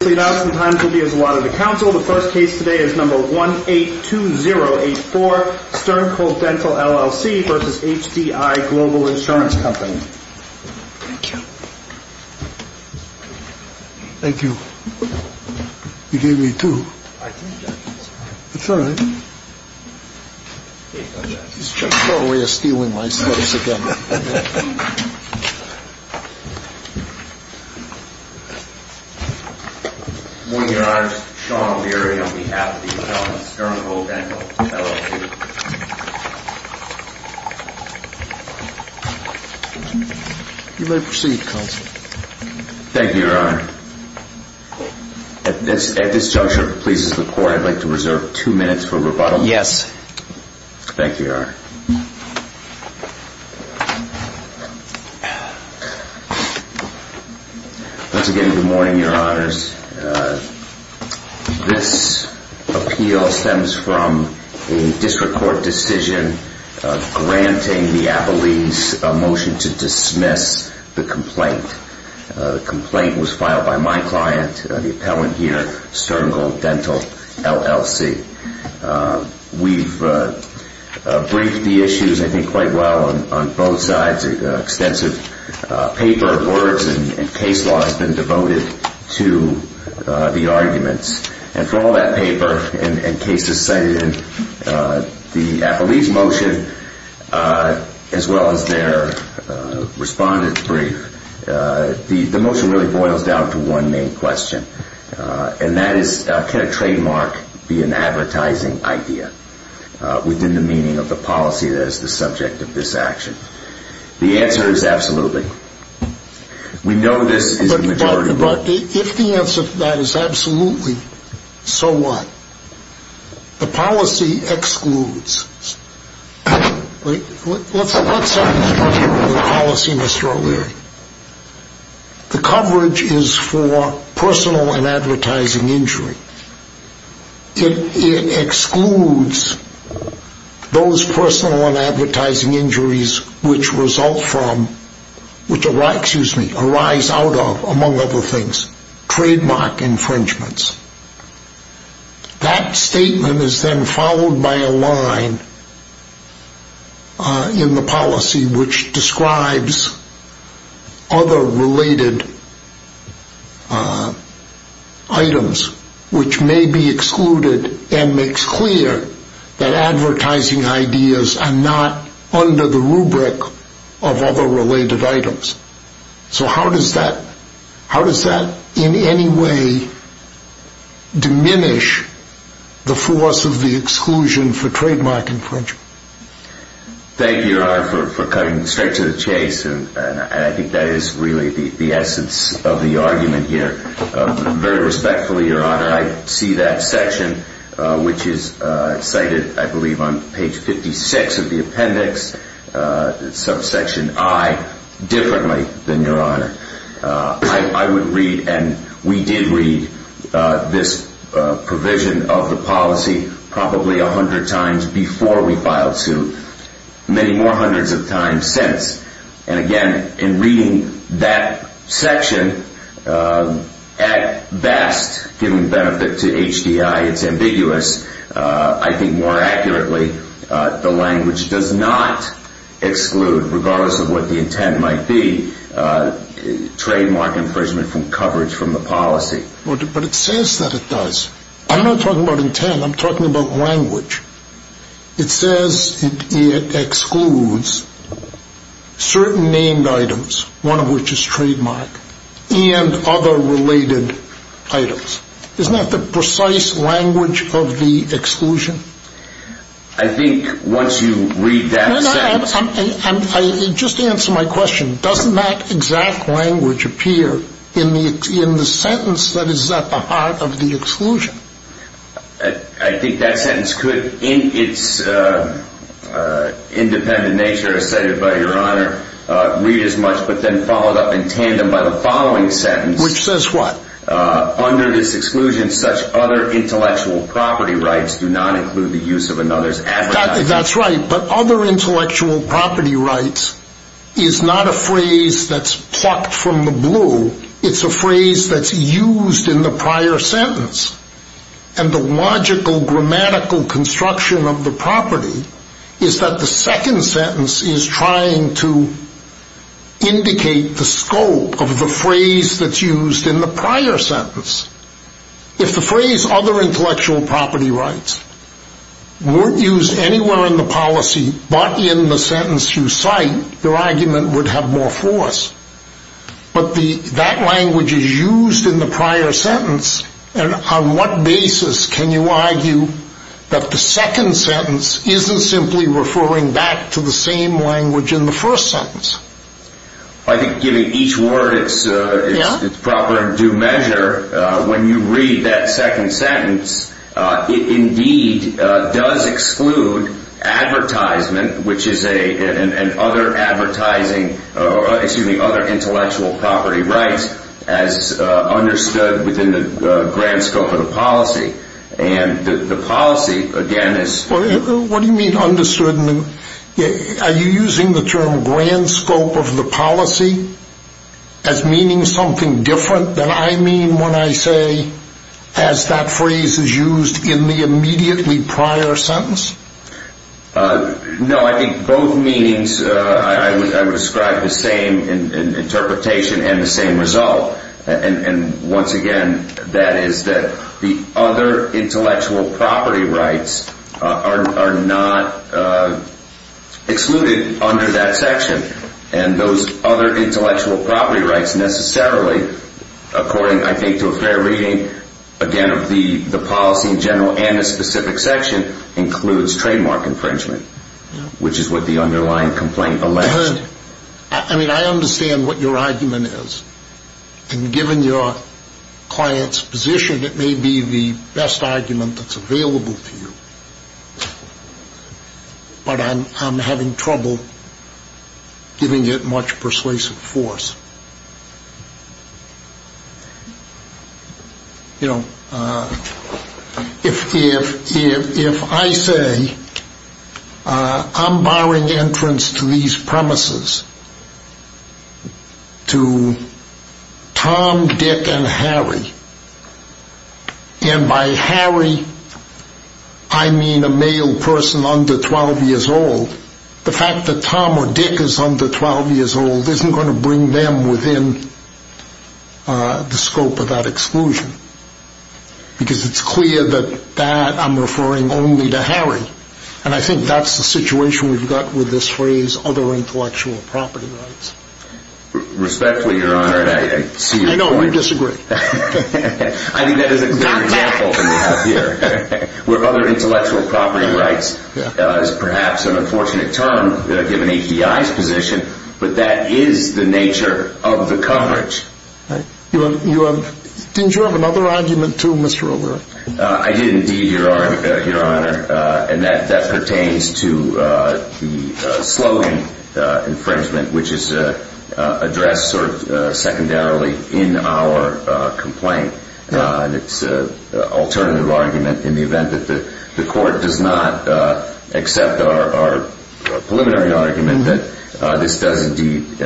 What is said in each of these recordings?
The first case today is number 182084, Sterngold Dental, LLC v. HDI Global Insurance Co. Thank you. Thank you. You gave me two. I think that's all right. It's all right. He's totally stealing my stuff again. Good morning, Your Honor. Sean Leary on behalf of the appellant Sterngold Dental, LLC. You may proceed, counsel. Thank you, Your Honor. At this juncture, if it pleases the Court, I'd like to reserve two minutes for rebuttal. Yes. Thank you, Your Honor. Once again, good morning, Your Honors. This appeal stems from a district court decision granting the appellees a motion to dismiss the complaint. The complaint was filed by my client, the appellant here, Sterngold Dental, LLC. We've briefed the issues, I think, quite well on both sides. An extensive paper of words and case law has been devoted to the arguments. And from all that paper and cases cited in the appellee's motion, as well as their respondent's brief, the motion really boils down to one main question, and that is, can a trademark be an advertising idea within the meaning of the policy that is the subject of this action? The answer is absolutely. We know this is the majority vote. If the answer to that is absolutely, so what? The policy excludes. Let's start with the policy, Mr. O'Leary. The coverage is for personal and advertising injury. It excludes those personal and advertising injuries which result from, which arise out of, among other things, trademark infringements. That statement is then followed by a line in the policy which describes other related items, which may be excluded and makes clear that advertising ideas are not under the rubric of other related items. So how does that in any way diminish the force of the exclusion for trademark infringement? Thank you, Your Honor, for cutting straight to the chase. And I think that is really the essence of the argument here. Very respectfully, Your Honor, I see that section, which is cited, I believe, on page 56 of the appendix, subsection I, differently than Your Honor. I would read, and we did read, this provision of the policy probably a hundred times before we filed suit, many more hundreds of times since. And, again, in reading that section, at best, giving benefit to HDI, it's ambiguous. I think more accurately, the language does not exclude, regardless of what the intent might be, trademark infringement from coverage from the policy. But it says that it does. I'm not talking about intent, I'm talking about language. It says it excludes certain named items, one of which is trademark, and other related items. Isn't that the precise language of the exclusion? I think once you read that sentence... Just answer my question. Doesn't that exact language appear in the sentence that is at the heart of the exclusion? I think that sentence could, in its independent nature, as cited by Your Honor, read as much, but then followed up in tandem by the following sentence. Which says what? Under this exclusion, such other intellectual property rights do not include the use of another's... That's right. But other intellectual property rights is not a phrase that's plucked from the blue. It's a phrase that's used in the prior sentence. And the logical grammatical construction of the property is that the second sentence is trying to indicate the scope of the phrase that's used in the prior sentence. If the phrase other intellectual property rights weren't used anywhere in the policy, but in the sentence you cite, your argument would have more force. But that language is used in the prior sentence, and on what basis can you argue that the second sentence isn't simply referring back to the same language in the first sentence? I think given each word, its proper due measure, when you read that second sentence, it indeed does exclude advertisement, which is other intellectual property rights as understood within the grand scope of the policy. And the policy, again, is... What do you mean understood? Are you using the term grand scope of the policy as meaning something different than I mean when I say, as that phrase is used in the immediately prior sentence? No, I think both meanings, I would describe the same interpretation and the same result. And once again, that is that the other intellectual property rights are not excluded under that section. And those other intellectual property rights necessarily, according, I think, to a fair reading, again, the policy in general and the specific section includes trademark infringement, which is what the underlying complaint alleges. I mean, I understand what your argument is. And given your client's position, it may be the best argument that's available to you. But I'm having trouble giving it much persuasive force. You know, if I say I'm barring entrance to these premises, to Tom, Dick, and Harry, and by Harry I mean a male person under 12 years old, the fact that Tom or Dick is under 12 years old isn't going to bring them within the scope of that exclusion. Because it's clear that I'm referring only to Harry. And I think that's the situation we've got with this phrase, other intellectual property rights. Respectfully, Your Honor, I see your point. I know, we disagree. I think that is a good example that we have here. Where other intellectual property rights is perhaps an unfortunate term given API's position, but that is the nature of the coverage. Didn't you have another argument too, Mr. O'Rourke? I did indeed, Your Honor, and that pertains to the slogan infringement, which is addressed sort of secondarily in our complaint. It's an alternative argument in the event that the court does not accept our preliminary argument that this does indeed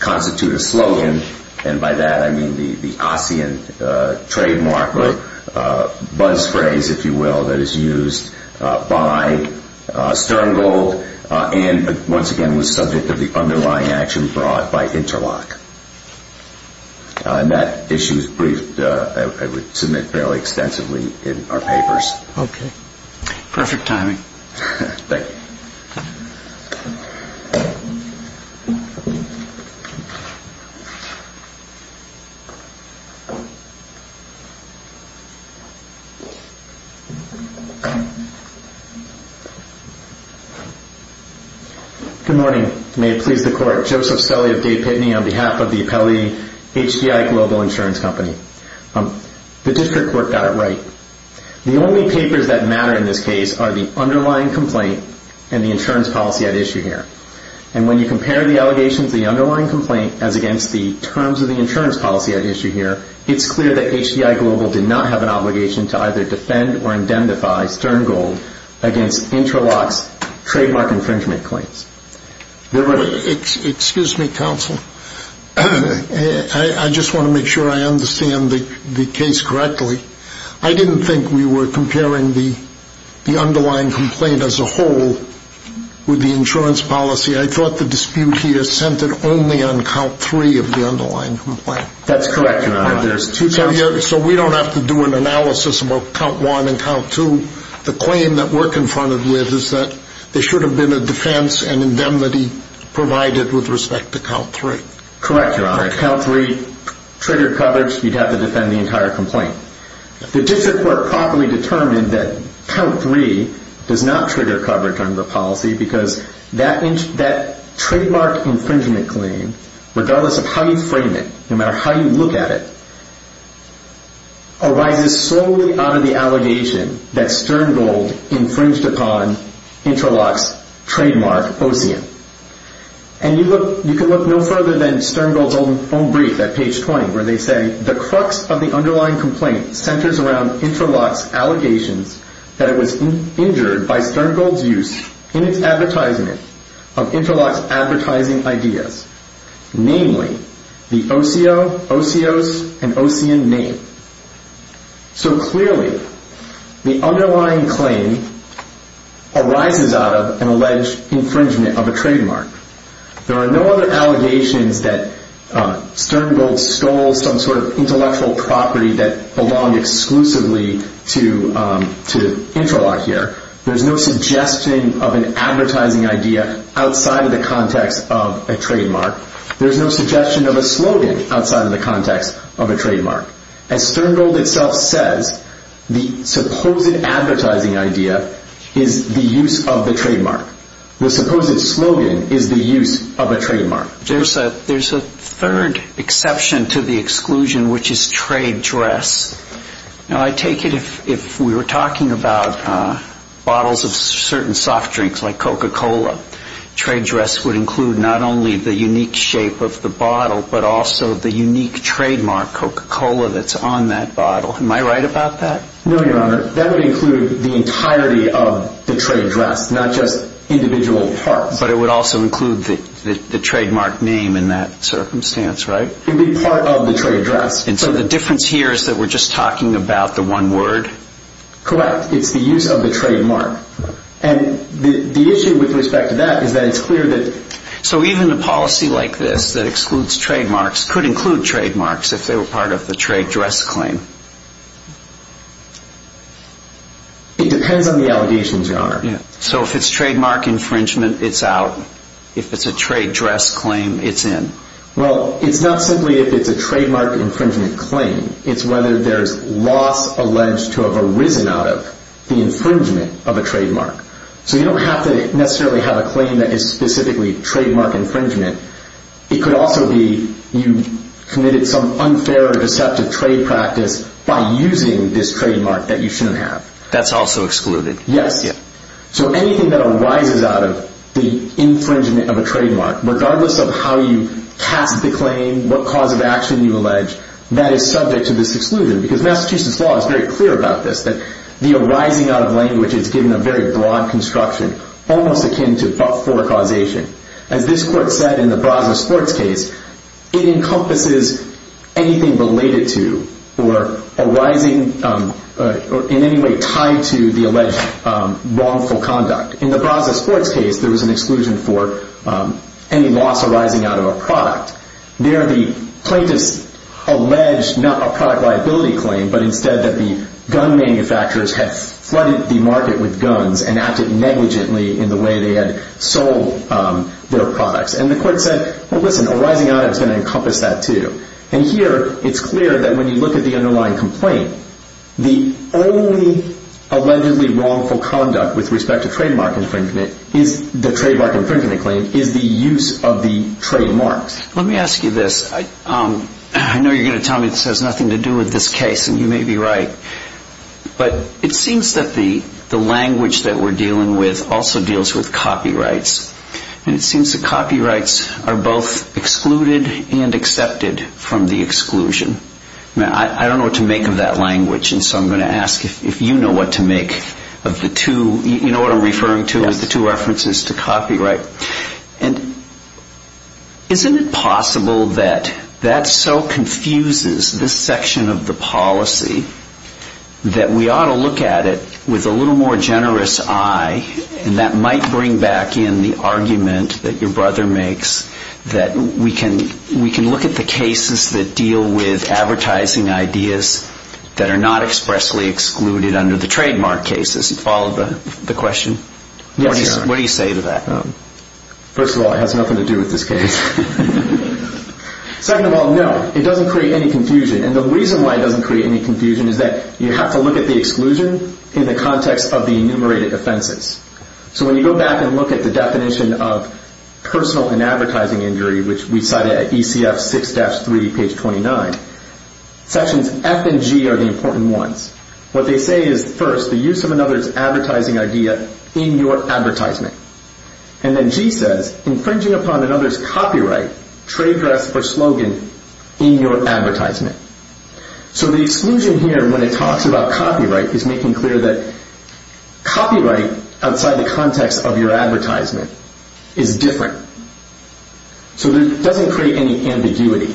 constitute a slogan. And by that I mean the Ossian trademark or buzz phrase, if you will, that is used by Sterngold and once again was subject of the underlying action brought by Interloch. And that issue is briefed, I would submit, fairly extensively in our papers. Okay. Perfect timing. Thank you. Good morning. May it please the Court. Joseph Stelle of Day Pitney on behalf of the appellee, HCI Global Insurance Company. The district court got it right. The only papers that matter in this case are the underlying complaint and the insurance policy at issue here. And when you compare the allegations of the underlying complaint as against the terms of the insurance policy at issue here, it's clear that HCI Global did not have an obligation to either defend or indemnify Sterngold against Interloch's trademark infringement claims. Excuse me, counsel. I just want to make sure I understand the case correctly. I didn't think we were comparing the underlying complaint as a whole with the insurance policy. I thought the dispute here centered only on count three of the underlying complaint. That's correct, Your Honor. So we don't have to do an analysis about count one and count two. The claim that we're confronted with is that there should have been a defense and indemnity provided with respect to count three. Correct, Your Honor. If count three triggered coverage, you'd have to defend the entire complaint. The district court properly determined that count three does not trigger coverage under policy because that trademark infringement claim, regardless of how you frame it, no matter how you look at it, arises solely out of the allegation that Sterngold infringed upon Interloch's trademark, OSEAN. And you can look no further than Sterngold's own brief at page 20 where they say, the crux of the underlying complaint centers around Interloch's allegations that it was injured by Sterngold's use in its advertisement of Interloch's advertising ideas, namely the OCO, OSEOS, and OSEAN name. So clearly the underlying claim arises out of an alleged infringement of a trademark. There are no other allegations that Sterngold stole some sort of intellectual property that belonged exclusively to Interloch here. There's no suggestion of an advertising idea outside of the context of a trademark. There's no suggestion of a slogan outside of the context of a trademark. As Sterngold itself says, the supposed advertising idea is the use of the trademark. The supposed slogan is the use of a trademark. There's a third exception to the exclusion, which is trade dress. Now I take it if we were talking about bottles of certain soft drinks like Coca-Cola, trade dress would include not only the unique shape of the bottle but also the unique trademark Coca-Cola that's on that bottle. Am I right about that? No, Your Honor. That would include the entirety of the trade dress, not just individual parts. But it would also include the trademark name in that circumstance, right? It would be part of the trade dress. And so the difference here is that we're just talking about the one word? Correct. It's the use of the trademark. And the issue with respect to that is that it's clear that… So even a policy like this that excludes trademarks could include trademarks if they were part of the trade dress claim? It depends on the allegations, Your Honor. So if it's trademark infringement, it's out. If it's a trade dress claim, it's in. Well, it's not simply if it's a trademark infringement claim. It's whether there's loss alleged to have arisen out of the infringement of a trademark. So you don't have to necessarily have a claim that is specifically trademark infringement. It could also be you committed some unfair or deceptive trade practice by using this trademark that you shouldn't have. That's also excluded? Yes. So anything that arises out of the infringement of a trademark, regardless of how you cast the claim, what cause of action you allege, that is subject to this exclusion. Because Massachusetts law is very clear about this, that the arising out of language is given a very broad construction, almost akin to forecausation. As this court said in the Braza sports case, it encompasses anything related to or arising in any way tied to the alleged wrongful conduct. In the Braza sports case, there was an exclusion for any loss arising out of a product. There, the plaintiffs alleged not a product liability claim, but instead that the gun manufacturers had flooded the market with guns and acted negligently in the way they had sold their products. And the court said, well, listen, arising out of is going to encompass that too. And here, it's clear that when you look at the underlying complaint, the only allegedly wrongful conduct with respect to trademark infringement, the trademark infringement claim, is the use of the trademarks. Let me ask you this. I know you're going to tell me this has nothing to do with this case, and you may be right. But it seems that the language that we're dealing with also deals with copyrights. And it seems that copyrights are both excluded and accepted from the exclusion. I don't know what to make of that language, and so I'm going to ask if you know what to make of the two. You know what I'm referring to as the two references to copyright. And isn't it possible that that so confuses this section of the policy that we ought to look at it with a little more generous eye, and that might bring back in the argument that your brother makes that we can look at the cases that deal with advertising ideas that are not expressly excluded under the trademark cases? Do you follow the question? Yes, Your Honor. What do you say to that? First of all, it has nothing to do with this case. Second of all, no, it doesn't create any confusion. And the reason why it doesn't create any confusion is that you have to look at the exclusion in the context of the enumerated offenses. So when you go back and look at the definition of personal and advertising injury, which we cited at ECF 6-3, page 29, sections F and G are the important ones. What they say is, first, the use of another's advertising idea in your advertisement. And then G says, infringing upon another's copyright, trade dress or slogan, in your advertisement. So the exclusion here, when it talks about copyright, is making clear that copyright outside the context of your advertisement is different. So it doesn't create any ambiguity.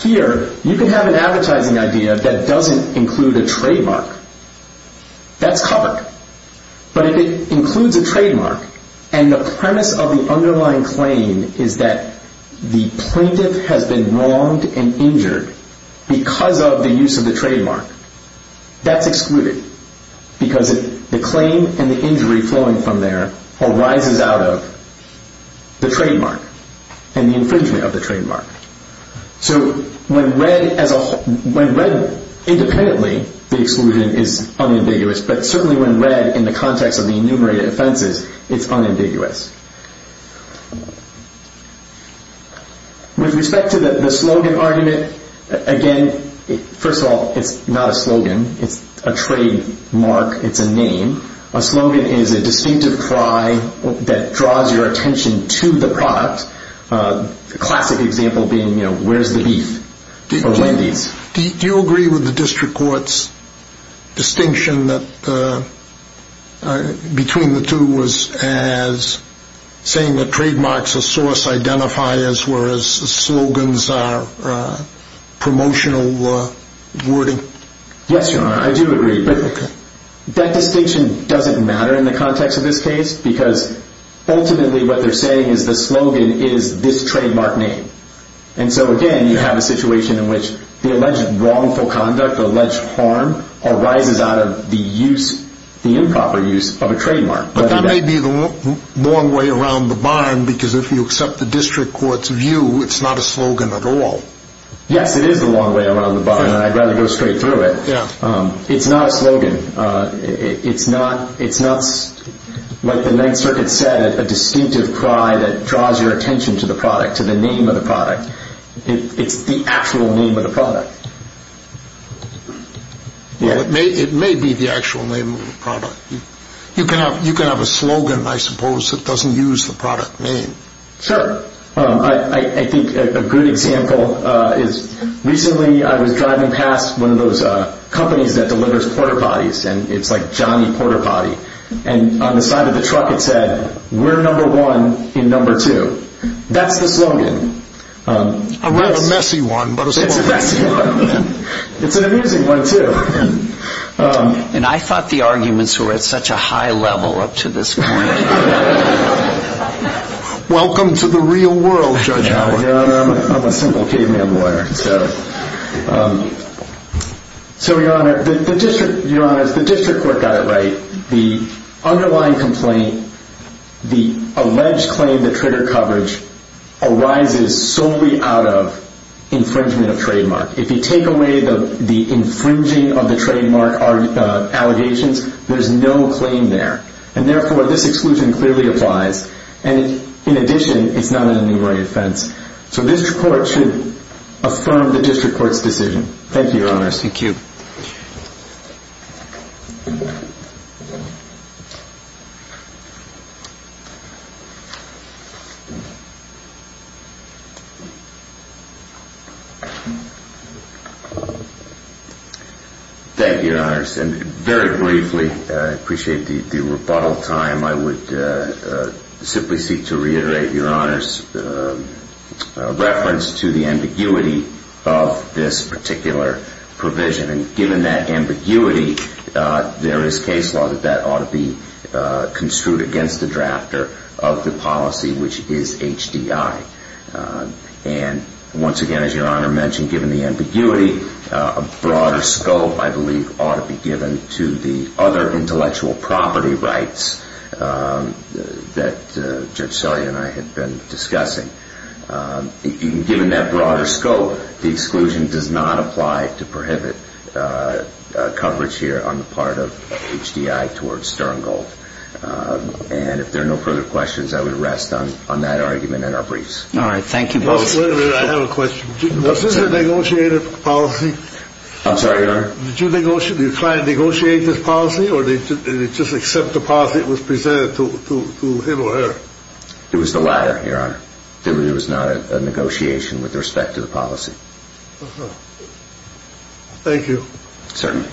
Here, you can have an advertising idea that doesn't include a trademark. That's covered. But if it includes a trademark, and the premise of the underlying claim is that the plaintiff has been wronged and injured because of the use of the trademark, that's excluded because the claim and the injury flowing from there arises out of the trademark and the infringement of the trademark. So when read independently, the exclusion is unambiguous. But certainly when read in the context of the enumerated offenses, it's unambiguous. With respect to the slogan argument, again, first of all, it's not a slogan. It's a trademark. It's a name. A slogan is a distinctive cry that draws your attention to the product. A classic example being, you know, where's the beef? Or Wendy's. Do you agree with the district court's distinction between the two as saying that trademarks are source identifiers whereas slogans are promotional wording? Yes, Your Honor, I do agree. But that distinction doesn't matter in the context of this case because ultimately what they're saying is the slogan is this trademark name. And so, again, you have a situation in which the alleged wrongful conduct, alleged harm arises out of the improper use of a trademark. But that may be the long way around the barn because if you accept the district court's view, it's not a slogan at all. Yes, it is the long way around the barn, and I'd rather go straight through it. It's not a slogan. It's not, like the Ninth Circuit said, a distinctive cry that draws your attention to the product, to the name of the product. It's the actual name of the product. Well, it may be the actual name of the product. You can have a slogan, I suppose, that doesn't use the product name. Sure. I think a good example is recently I was driving past one of those companies that delivers port-a-potties, and it's like Johnny Port-a-Potty. And on the side of the truck it said, we're number one in number two. That's the slogan. Not a messy one, but a slogan. It's a messy one. It's an amusing one, too. And I thought the arguments were at such a high level up to this point. Welcome to the real world, Judge Howard. Your Honor, I'm a simple caveman lawyer. So, Your Honor, the district court got it right. The underlying complaint, the alleged claim to trigger coverage, arises solely out of infringement of trademark. If you take away the infringing of the trademark allegations, there's no claim there. And, therefore, this exclusion clearly applies. And, in addition, it's not an enumerated offense. So district court should affirm the district court's decision. Thank you, Your Honor. Thank you. Thank you, Your Honor. And, very briefly, I appreciate the rebuttal time. I would simply seek to reiterate Your Honor's reference to the ambiguity of this particular provision. And, given that ambiguity, there is case law that that ought to be construed against the drafter of the policy, which is HDI. And, once again, as Your Honor mentioned, given the ambiguity, a broader scope, I believe, ought to be given to the other intellectual property rights that Judge Selye and I have been discussing. Given that broader scope, the exclusion does not apply to prohibit coverage here on the part of HDI towards Sterngold. And, if there are no further questions, I would rest on that argument and our briefs. All right. Thank you. Wait a minute. I have a question. Was this a negotiated policy? I'm sorry, Your Honor? Did you try to negotiate this policy or did they just accept the policy that was presented to him or her? It was the latter, Your Honor. It was not a negotiation with respect to the policy. Uh-huh. Thank you. Certainly.